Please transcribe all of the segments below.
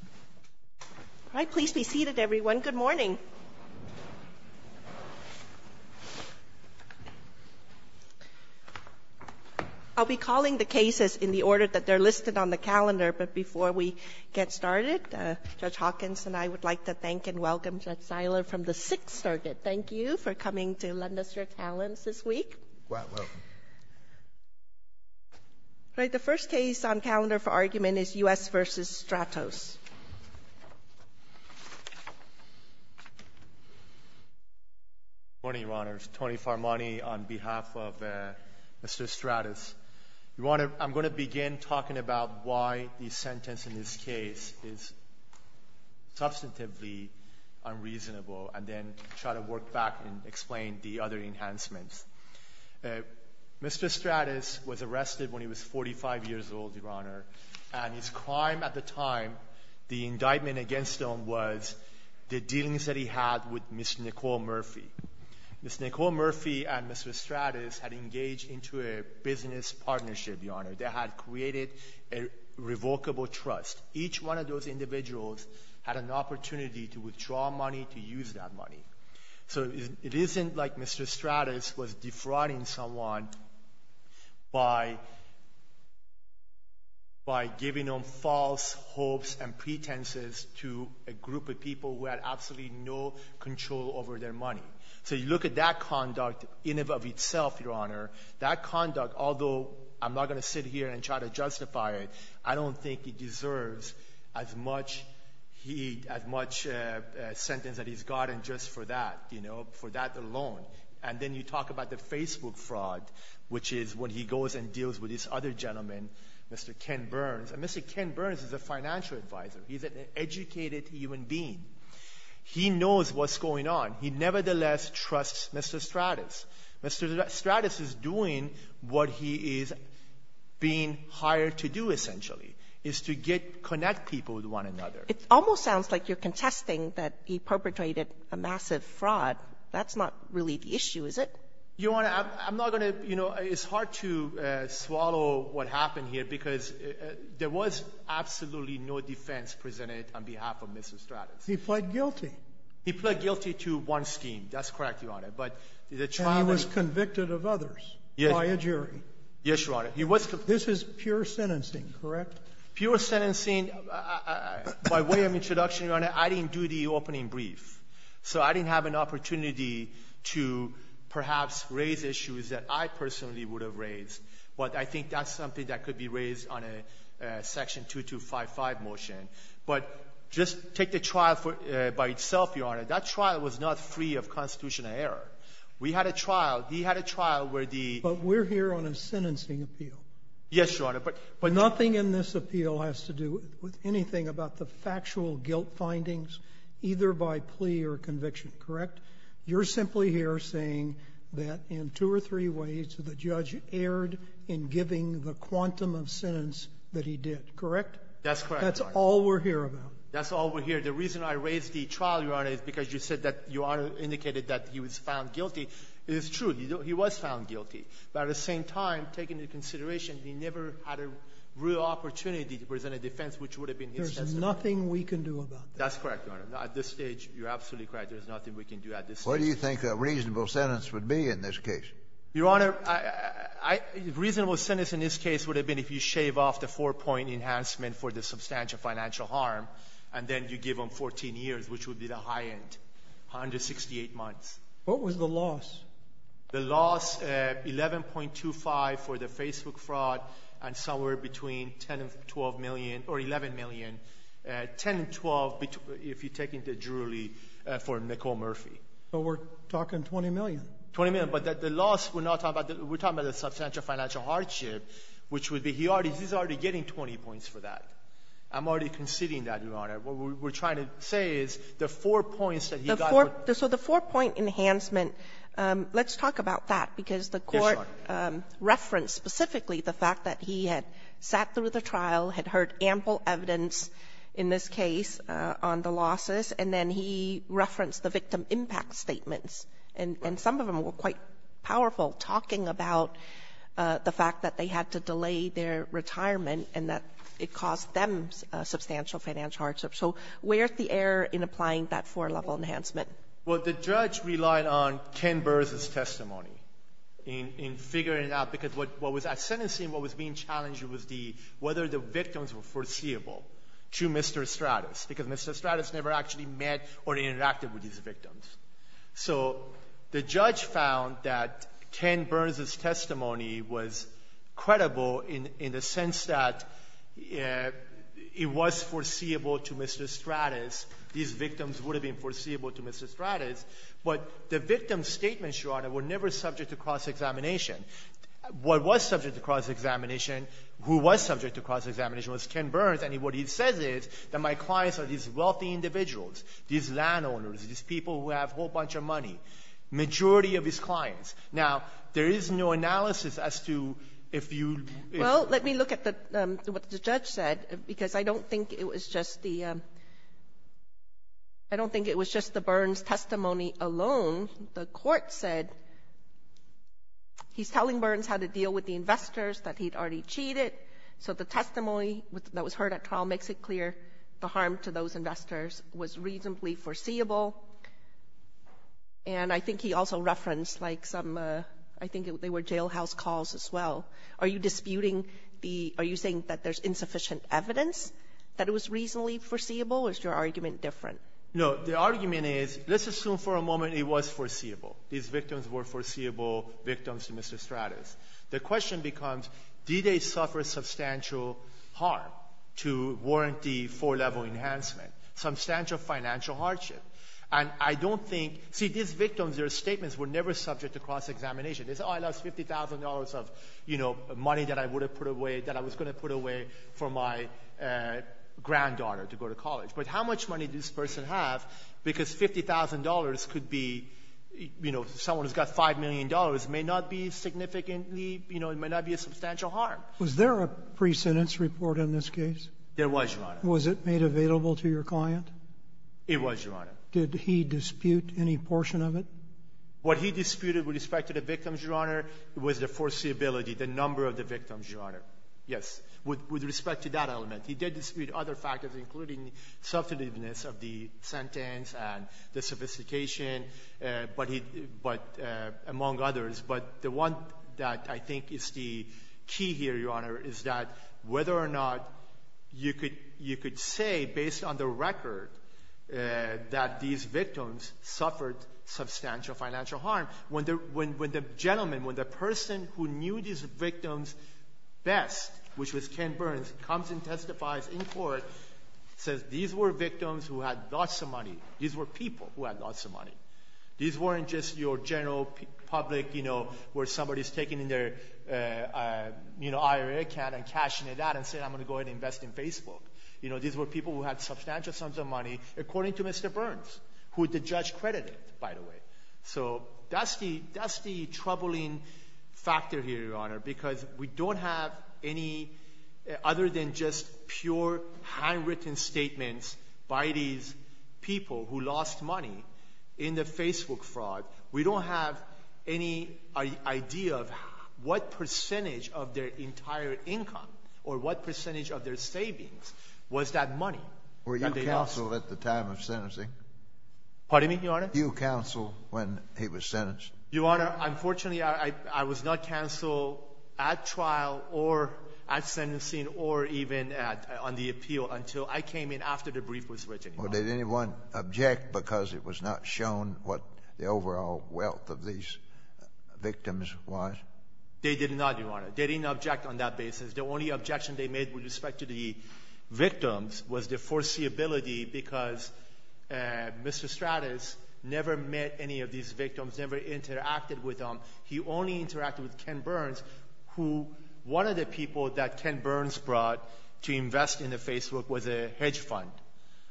All right, please be seated, everyone. Good morning. I'll be calling the cases in the order that they're listed on the calendar, but before we get started, Judge Hawkins and I would like to thank and welcome Judge Seiler from the Sixth Circuit. Thank you for coming to lend us your talents this week. You're quite welcome. All right. The first case on calendar for argument is U.S. v. Stratos. Good morning, Your Honors. Tony Farmani on behalf of Mr. Stratos. I'm going to begin talking about why the sentence in this case is substantively unreasonable and then try to work back and explain the other enhancements. Mr. Stratos was arrested when he was 45 years old, Your Honor, and his crime at the time, the indictment against him was the dealings that he had with Ms. Nicole Murphy. Ms. Nicole Murphy and Mr. Stratos had engaged into a business partnership, Your Honor. They had created a revocable trust. Each one of those individuals had an opportunity to withdraw money to use that money. So it isn't like Mr. Stratos was defrauding someone by giving them false hopes and pretenses to a group of people who had absolutely no control over their money. So you look at that conduct in and of itself, Your Honor, that conduct, although I'm not going to sit here and try to justify it, I don't think he deserves as much sentence that he's gotten just for that alone. And then you talk about the Facebook fraud, which is when he goes and deals with this other gentleman, Mr. Ken Burns, and Mr. Ken Burns is a financial advisor. He's an educated human being. He knows what's going on. He nevertheless trusts Mr. Stratos. Mr. Stratos is doing what he is being hired to do, essentially, is to get to connect people with one another. It almost sounds like you're contesting that he perpetrated a massive fraud. That's not really the issue, is it? Your Honor, I'm not going to, you know, it's hard to swallow what happened here, because there was absolutely no defense presented on behalf of Mr. Stratos. He pled guilty. He pled guilty to one scheme. That's correct, Your Honor. And he was convicted of others by a jury. Yes, Your Honor. This is pure sentencing, correct? Pure sentencing. By way of introduction, Your Honor, I didn't do the opening brief, so I didn't have an opportunity to perhaps raise issues that I personally would have raised. But I think that's something that could be raised on a Section 2255 motion. But just take the trial by itself, Your Honor. That trial was not free of constitutional error. We had a trial. He had a trial where the ---- But we're here on a sentencing appeal. Yes, Your Honor. But nothing in this appeal has to do with anything about the factual guilt findings, either by plea or conviction, correct? You're simply here saying that in two or three ways, the judge erred in giving the quantum of sentence that he did, correct? That's correct, Your Honor. That's all we're here about. That's all we're here. The reason I raised the trial, Your Honor, is because you said that Your Honor indicated that he was found guilty. It is true. He was found guilty. But at the same time, taking into consideration he never had a real opportunity to present a defense which would have been his testimony. There's nothing we can do about that. That's correct, Your Honor. At this stage, you're absolutely correct. There's nothing we can do at this stage. What do you think a reasonable sentence would be in this case? Your Honor, a reasonable sentence in this case would have been if you shave off the four-point enhancement for the substantial financial harm, and then you give him 14 years, which would be the high end, 168 months. What was the loss? The loss, 11.25 for the Facebook fraud and somewhere between 10 and 12 million or 11 million, 10 and 12 if you take into jury for Nicole Murphy. But we're talking 20 million. Twenty million. But the loss, we're talking about the substantial financial hardship, which would be he already getting 20 points for that. I'm already conceding that, Your Honor. What we're trying to say is the four points that he got. So the four-point enhancement, let's talk about that. Because the Court referenced specifically the fact that he had sat through the trial, had heard ample evidence in this case on the losses, and then he referenced the victim impact statements. And some of them were quite powerful, talking about the fact that they had to delay their retirement and that it caused them substantial financial hardship. So where's the error in applying that four-level enhancement? Well, the judge relied on Ken Burns' testimony in figuring it out, because what was at sentencing, what was being challenged was the – whether the victims were foreseeable to Mr. Stratis, because Mr. Stratis never actually met or interacted with these victims. So the judge found that Ken Burns' testimony was credible in the sense that it was foreseeable to Mr. Stratis. These victims would have been foreseeable to Mr. Stratis. But the victims' statements, Your Honor, were never subject to cross-examination. What was subject to cross-examination, who was subject to cross-examination was Ken Burns. And what he says is that my clients are these wealthy individuals, these landowners, these people who have a whole bunch of money, majority of his clients. Now, there is no analysis as to if you – Well, let me look at the – what the judge said, because I don't think it was just the – I don't think it was just the Burns testimony alone. The court said he's telling Burns how to deal with the investors, that he'd already cheated. So the testimony that was heard at trial makes it clear the harm to those investors was reasonably foreseeable. And I think he also referenced, like, some – I think they were jailhouse calls as well. Are you disputing the – are you saying that there's insufficient evidence that it was reasonably foreseeable? Or is your argument different? No. The argument is, let's assume for a moment it was foreseeable. These victims were foreseeable victims to Mr. Stratis. The question becomes, did they suffer substantial harm to warrant the four-level enhancement, substantial financial hardship? And I don't think – see, these victims, their statements were never subject to cross-examination. They said, oh, I lost $50,000 of, you know, money that I would have put away – that I was going to put away for my granddaughter to go to college. But how much money did this person have? Because $50,000 could be – you know, someone who's got $5 million may not be significantly – you know, it may not be a substantial harm. Was there a pre-sentence report in this case? There was, Your Honor. Was it made available to your client? It was, Your Honor. Did he dispute any portion of it? What he disputed with respect to the victims, Your Honor, was the foreseeability, the number of the victims, Your Honor. Yes, with respect to that element. He did dispute other factors, including the substantiveness of the sentence and the sophistication, but he – but among others. But the one that I think is the key here, Your Honor, is that whether or not you could say based on the record that these victims suffered substantial financial harm, when the – when the gentleman, when the person who knew these victims best, which was Ken Burns, comes and testifies in court, says these were victims who had lots of money. These were people who had lots of money. These weren't just your general public, you know, where somebody's taking their IRA account and cashing it out and saying, I'm going to go ahead and invest in Facebook. You know, these were people who had substantial sums of money, according to Mr. Burns, who the judge credited, by the way. So that's the – that's the troubling factor here, Your Honor, because we don't have any other than just pure handwritten statements by these people who lost money in the Facebook fraud. We don't have any idea of what percentage of their entire income or what percentage of their savings was that money that they lost. Were you counsel at the time of sentencing? Pardon me, Your Honor? Were you counsel when he was sentenced? Your Honor, unfortunately, I was not counsel at trial or at sentencing or even on the appeal until I came in after the brief was written. Well, did anyone object because it was not shown what the overall wealth of these victims was? They did not, Your Honor. They didn't object on that basis. The only objection they made with respect to the victims was their foreseeability because Mr. Stratus never met any of these victims, never interacted with them. He only interacted with Ken Burns, who one of the people that Ken Burns brought to invest in the Facebook was a hedge fund.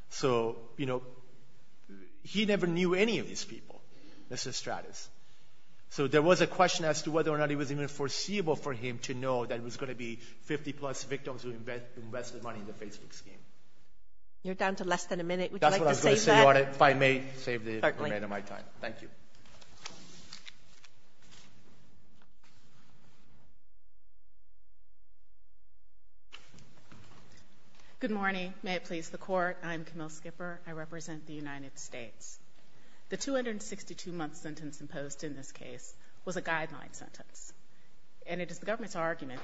So, you know, he never knew any of these people, Mr. Stratus. So there was a question as to whether or not it was even foreseeable for him to know that there was going to be 50-plus victims who invested money in the Facebook scheme. You're down to less than a minute. Would you like to save that? That's what I was going to say, Your Honor. If I may, save the remainder of my time. Certainly. Thank you. Good morning. May it please the Court. I'm Camille Skipper. I represent the United States. The 262-month sentence imposed in this case was a guideline sentence, and it is the case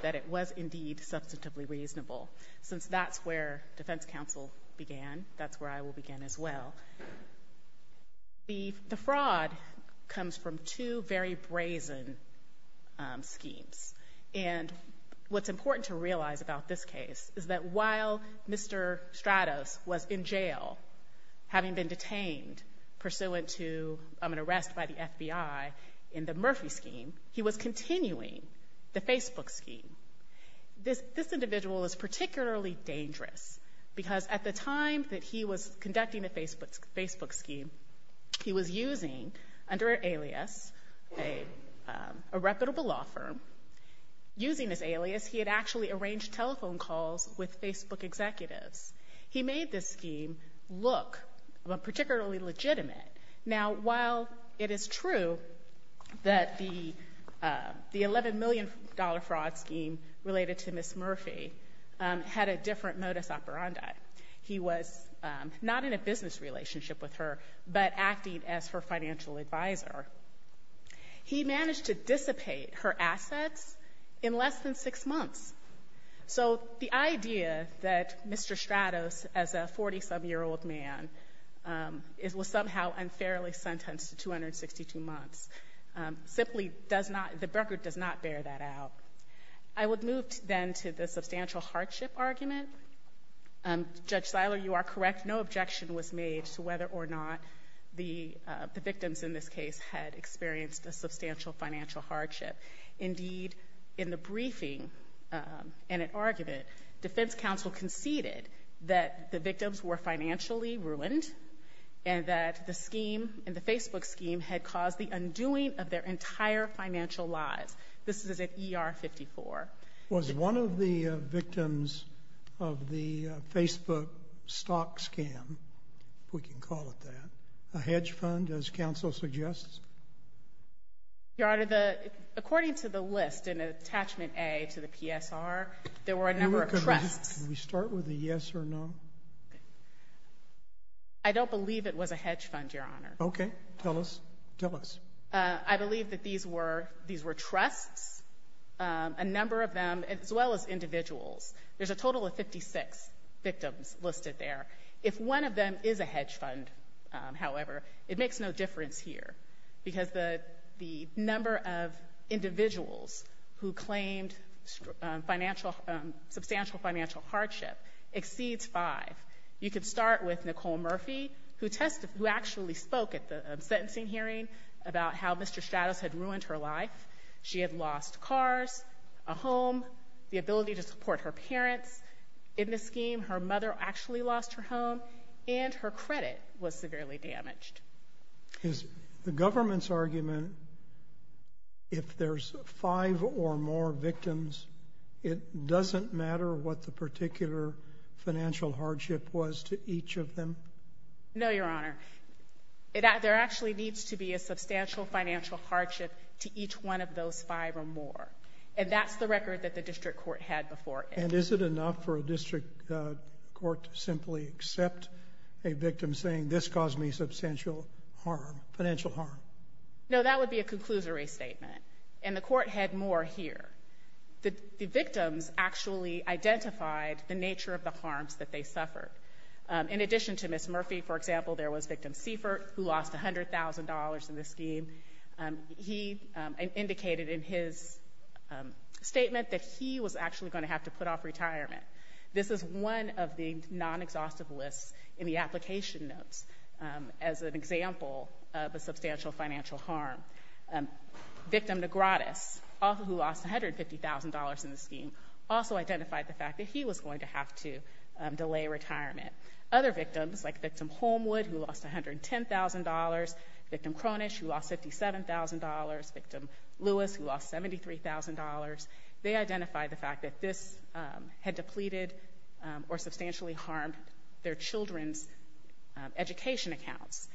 that it was indeed substantively reasonable. Since that's where defense counsel began, that's where I will begin as well. The fraud comes from two very brazen schemes. And what's important to realize about this case is that while Mr. Stratus was in jail, having been detained pursuant to an arrest by the FBI in the Murphy scheme, he was continuing the Facebook scheme. This individual is particularly dangerous because at the time that he was conducting the Facebook scheme, he was using, under an alias, a reputable law firm. Using this alias, he had actually arranged telephone calls with Facebook executives. He made this scheme look particularly legitimate. Now, while it is true that the $11 million fraud scheme related to Ms. Murphy had a different modus operandi, he was not in a business relationship with her, but acting as her financial advisor. He managed to dissipate her assets in less than six months. So the idea that Mr. Stratus, as a 40-some-year-old man, was somehow unfairly sentenced to 262 months simply does not — the record does not bear that out. I would move then to the substantial hardship argument. Judge Siler, you are correct. No objection was made to whether or not the victims in this case had experienced a substantial financial hardship. Indeed, in the briefing and at argument, defense counsel conceded that the victims were financially ruined and that the scheme and the Facebook scheme had caused the undoing of their entire financial lives. This is at ER 54. Was one of the victims of the Facebook stock scam, if we can call it that, a hedge fund, as counsel suggests? Your Honor, the — according to the list in Attachment A to the PSR, there were a number of trusts. Can we start with a yes or no? I don't believe it was a hedge fund, Your Honor. Okay. Tell us. Tell us. I believe that these were — these were trusts, a number of them, as well as individuals. There's a total of 56 victims listed there. If one of them is a hedge fund, however, it makes no difference here, because the number of individuals who claimed financial — substantial financial hardship exceeds five. You could start with Nicole Murphy, who tested — who actually spoke at the sentencing hearing about how Mr. Stratus had ruined her life. She had lost cars, a home, the ability to support her parents. In the scheme, her mother actually lost her home, and her credit was severely damaged. Is the government's argument, if there's five or more victims, it doesn't matter what the particular financial hardship was to each of them? No, Your Honor. There actually needs to be a substantial financial hardship to each one of those five or more. And that's the record that the district court had before it. And is it enough for a district court to simply accept a victim saying, this caused me substantial harm, financial harm? No, that would be a conclusory statement. And the court had more here. The victims actually identified the nature of the harms that they suffered. In addition to Ms. Murphy, for example, there was victim Seifert, who lost $100,000 in the scheme. He indicated in his statement that he was actually going to have to put off retirement. This is one of the non-exhaustive lists in the application notes as an example of a substantial financial harm. Victim Negratis, who lost $150,000 in the scheme, also identified the fact that he was going to have to delay retirement. Other victims, like victim Holmwood, who lost $110,000, victim Cronish, who lost $57,000, victim Lewis, who lost $73,000, they identified the fact that this had depleted or substantially harmed their children's education accounts.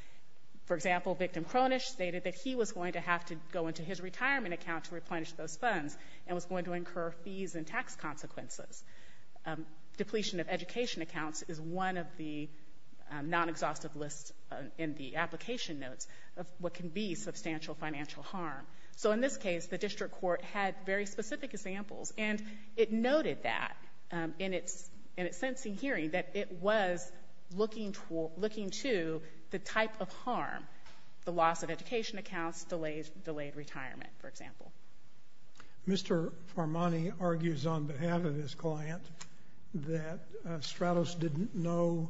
For example, victim Cronish stated that he was going to have to go into his retirement account to replenish those funds and was going to incur fees and tax consequences. Depletion of education accounts is one of the non-exhaustive lists in the application notes of what can be substantial financial harm. So in this case, the district court had very specific examples, and it noted that in its sentencing hearing that it was looking to the type of harm, the loss of education accounts, delayed retirement, for example. Mr. Farmani argues on behalf of his client that Stratos didn't know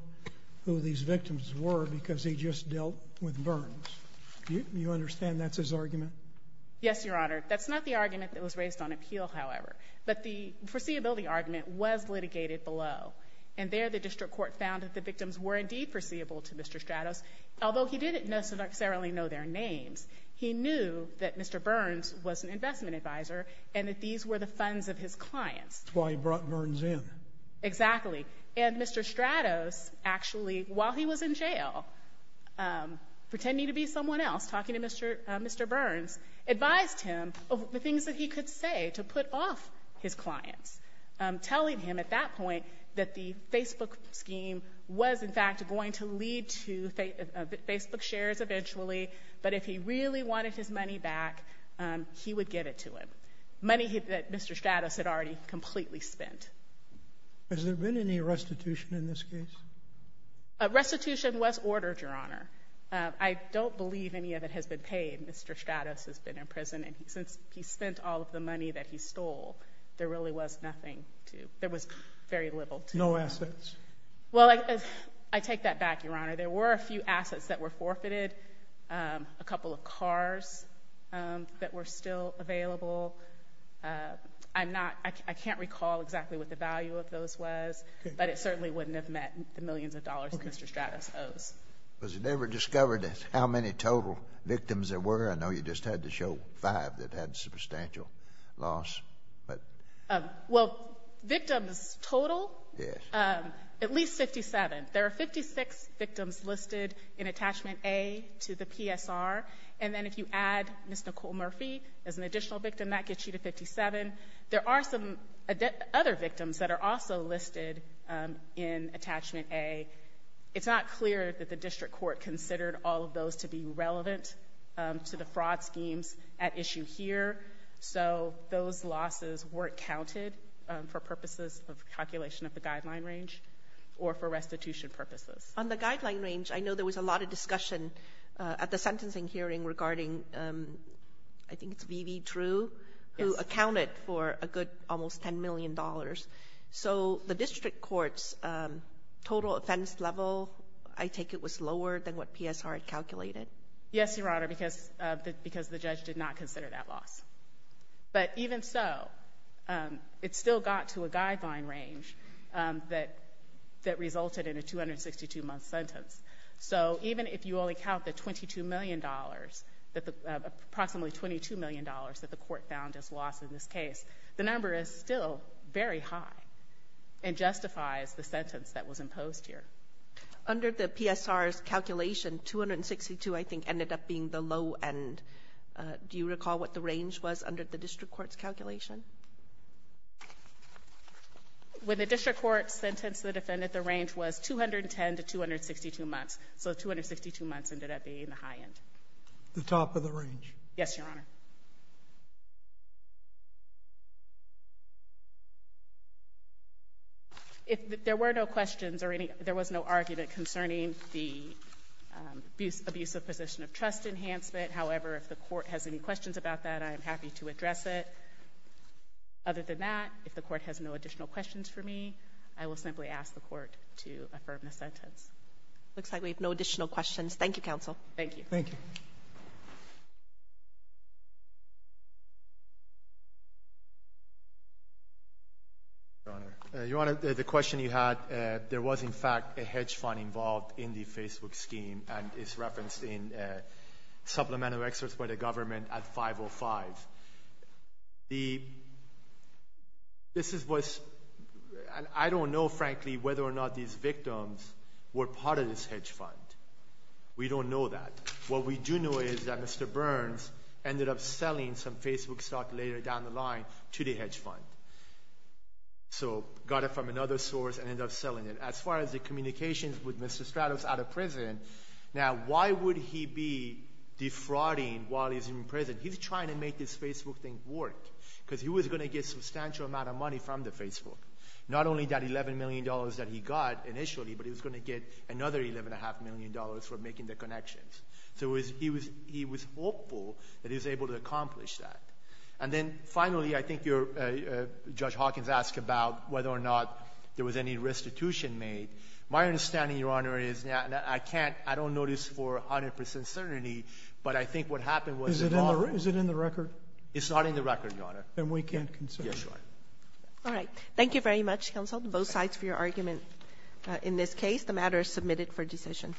who these victims were because he just dealt with Burns. You understand that's his argument? Yes, Your Honor. That's not the argument that was raised on appeal, however. But the foreseeability argument was litigated below. And there the district court found that the victims were indeed foreseeable to Mr. Stratos, although he didn't necessarily know their names. He knew that Mr. Burns was an investment advisor and that these were the funds of his clients. That's why he brought Burns in. Exactly. And Mr. Stratos actually, while he was in jail, pretending to be someone else, talking to Mr. Burns, advised him of the things that he could say to put off his clients, telling him at that point that the Facebook scheme was, in fact, going to lead to Facebook shares eventually. But if he really wanted his money back, he would give it to him, money that Mr. Stratos had already completely spent. Has there been any restitution in this case? Restitution was ordered, Your Honor. I don't believe any of it has been paid. Mr. Stratos has been in prison, and since he spent all of the money that he stole, there really was nothing to — there was very little to — No assets? Well, I take that back, Your Honor. There were a few assets that were forfeited, a couple of cars that were still available. I'm not — I can't recall exactly what the value of those was, but it certainly wouldn't have met the millions of dollars that Mr. Stratos owes. Okay. Was it ever discovered how many total victims there were? I know you just had to show five that had substantial loss, but — Well, victims total? Yes. At least 57. There are 56 victims listed in Attachment A to the PSR, and then if you add Ms. Nicole Murphy as an additional victim, that gets you to 57. There are some other victims that are also listed in Attachment A. It's not clear that the difference in the number of victims that the district court considered all of those to be relevant to the fraud schemes at issue here, so those losses weren't counted for purposes of calculation of the guideline range or for restitution purposes. On the guideline range, I know there was a lot of discussion at the sentencing hearing regarding — I think it's V.V. True — Yes. It was accounted for a good almost $10 million. So the district court's total offense level, I take it, was lower than what PSR had calculated? Yes, Your Honor, because the judge did not consider that loss. But even so, it still got to a guideline range that resulted in a 262-month sentence. So even if you only count the $22 million, approximately $22 million that the court found as losses, in this case, the number is still very high and justifies the sentence that was imposed here. Under the PSR's calculation, 262, I think, ended up being the low end. Do you recall what the range was under the district court's calculation? When the district court sentenced the defendant, the range was 210 to 262 months. So 262 months ended up being the high end. The top of the range? Yes, Your Honor. If there were no questions or any — there was no argument concerning the abuse of position of trust enhancement. However, if the court has any questions about that, I am happy to address it. Other than that, if the court has no additional questions for me, I will simply ask the court to affirm the sentence. It looks like we have no additional questions. Thank you, counsel. Thank you. Thank you. Your Honor, the question you had, there was, in fact, a hedge fund involved in the Facebook scheme and is referenced in supplemental excerpts by the government at 5.05. The — this is what's — I don't know, frankly, whether or not these victims were part of this hedge fund. We don't know that. What we do know is that Mr. Burns ended up selling some Facebook stock later down the line to the hedge fund. So got it from another source and ended up selling it. As far as the communications with Mr. Stratus out of prison, now why would he be defrauding while he's in prison? He's trying to make this Facebook thing work because he was going to get a substantial amount of money from the Facebook. Not only that $11 million that he got initially, but he was going to get another $11.5 million for making the connections. So he was — he was hopeful that he was able to accomplish that. And then, finally, I think you're — Judge Hawkins asked about whether or not there was any restitution made. My understanding, Your Honor, is that I can't — I don't know this for 100 percent certainty, but I think what happened was — Is it in the — is it in the record? It's not in the record, Your Honor. Then we can't consider it. Yes, Your Honor. All right. Thank you very much, counsel, on both sides for your argument in this case. The matter is submitted for decision.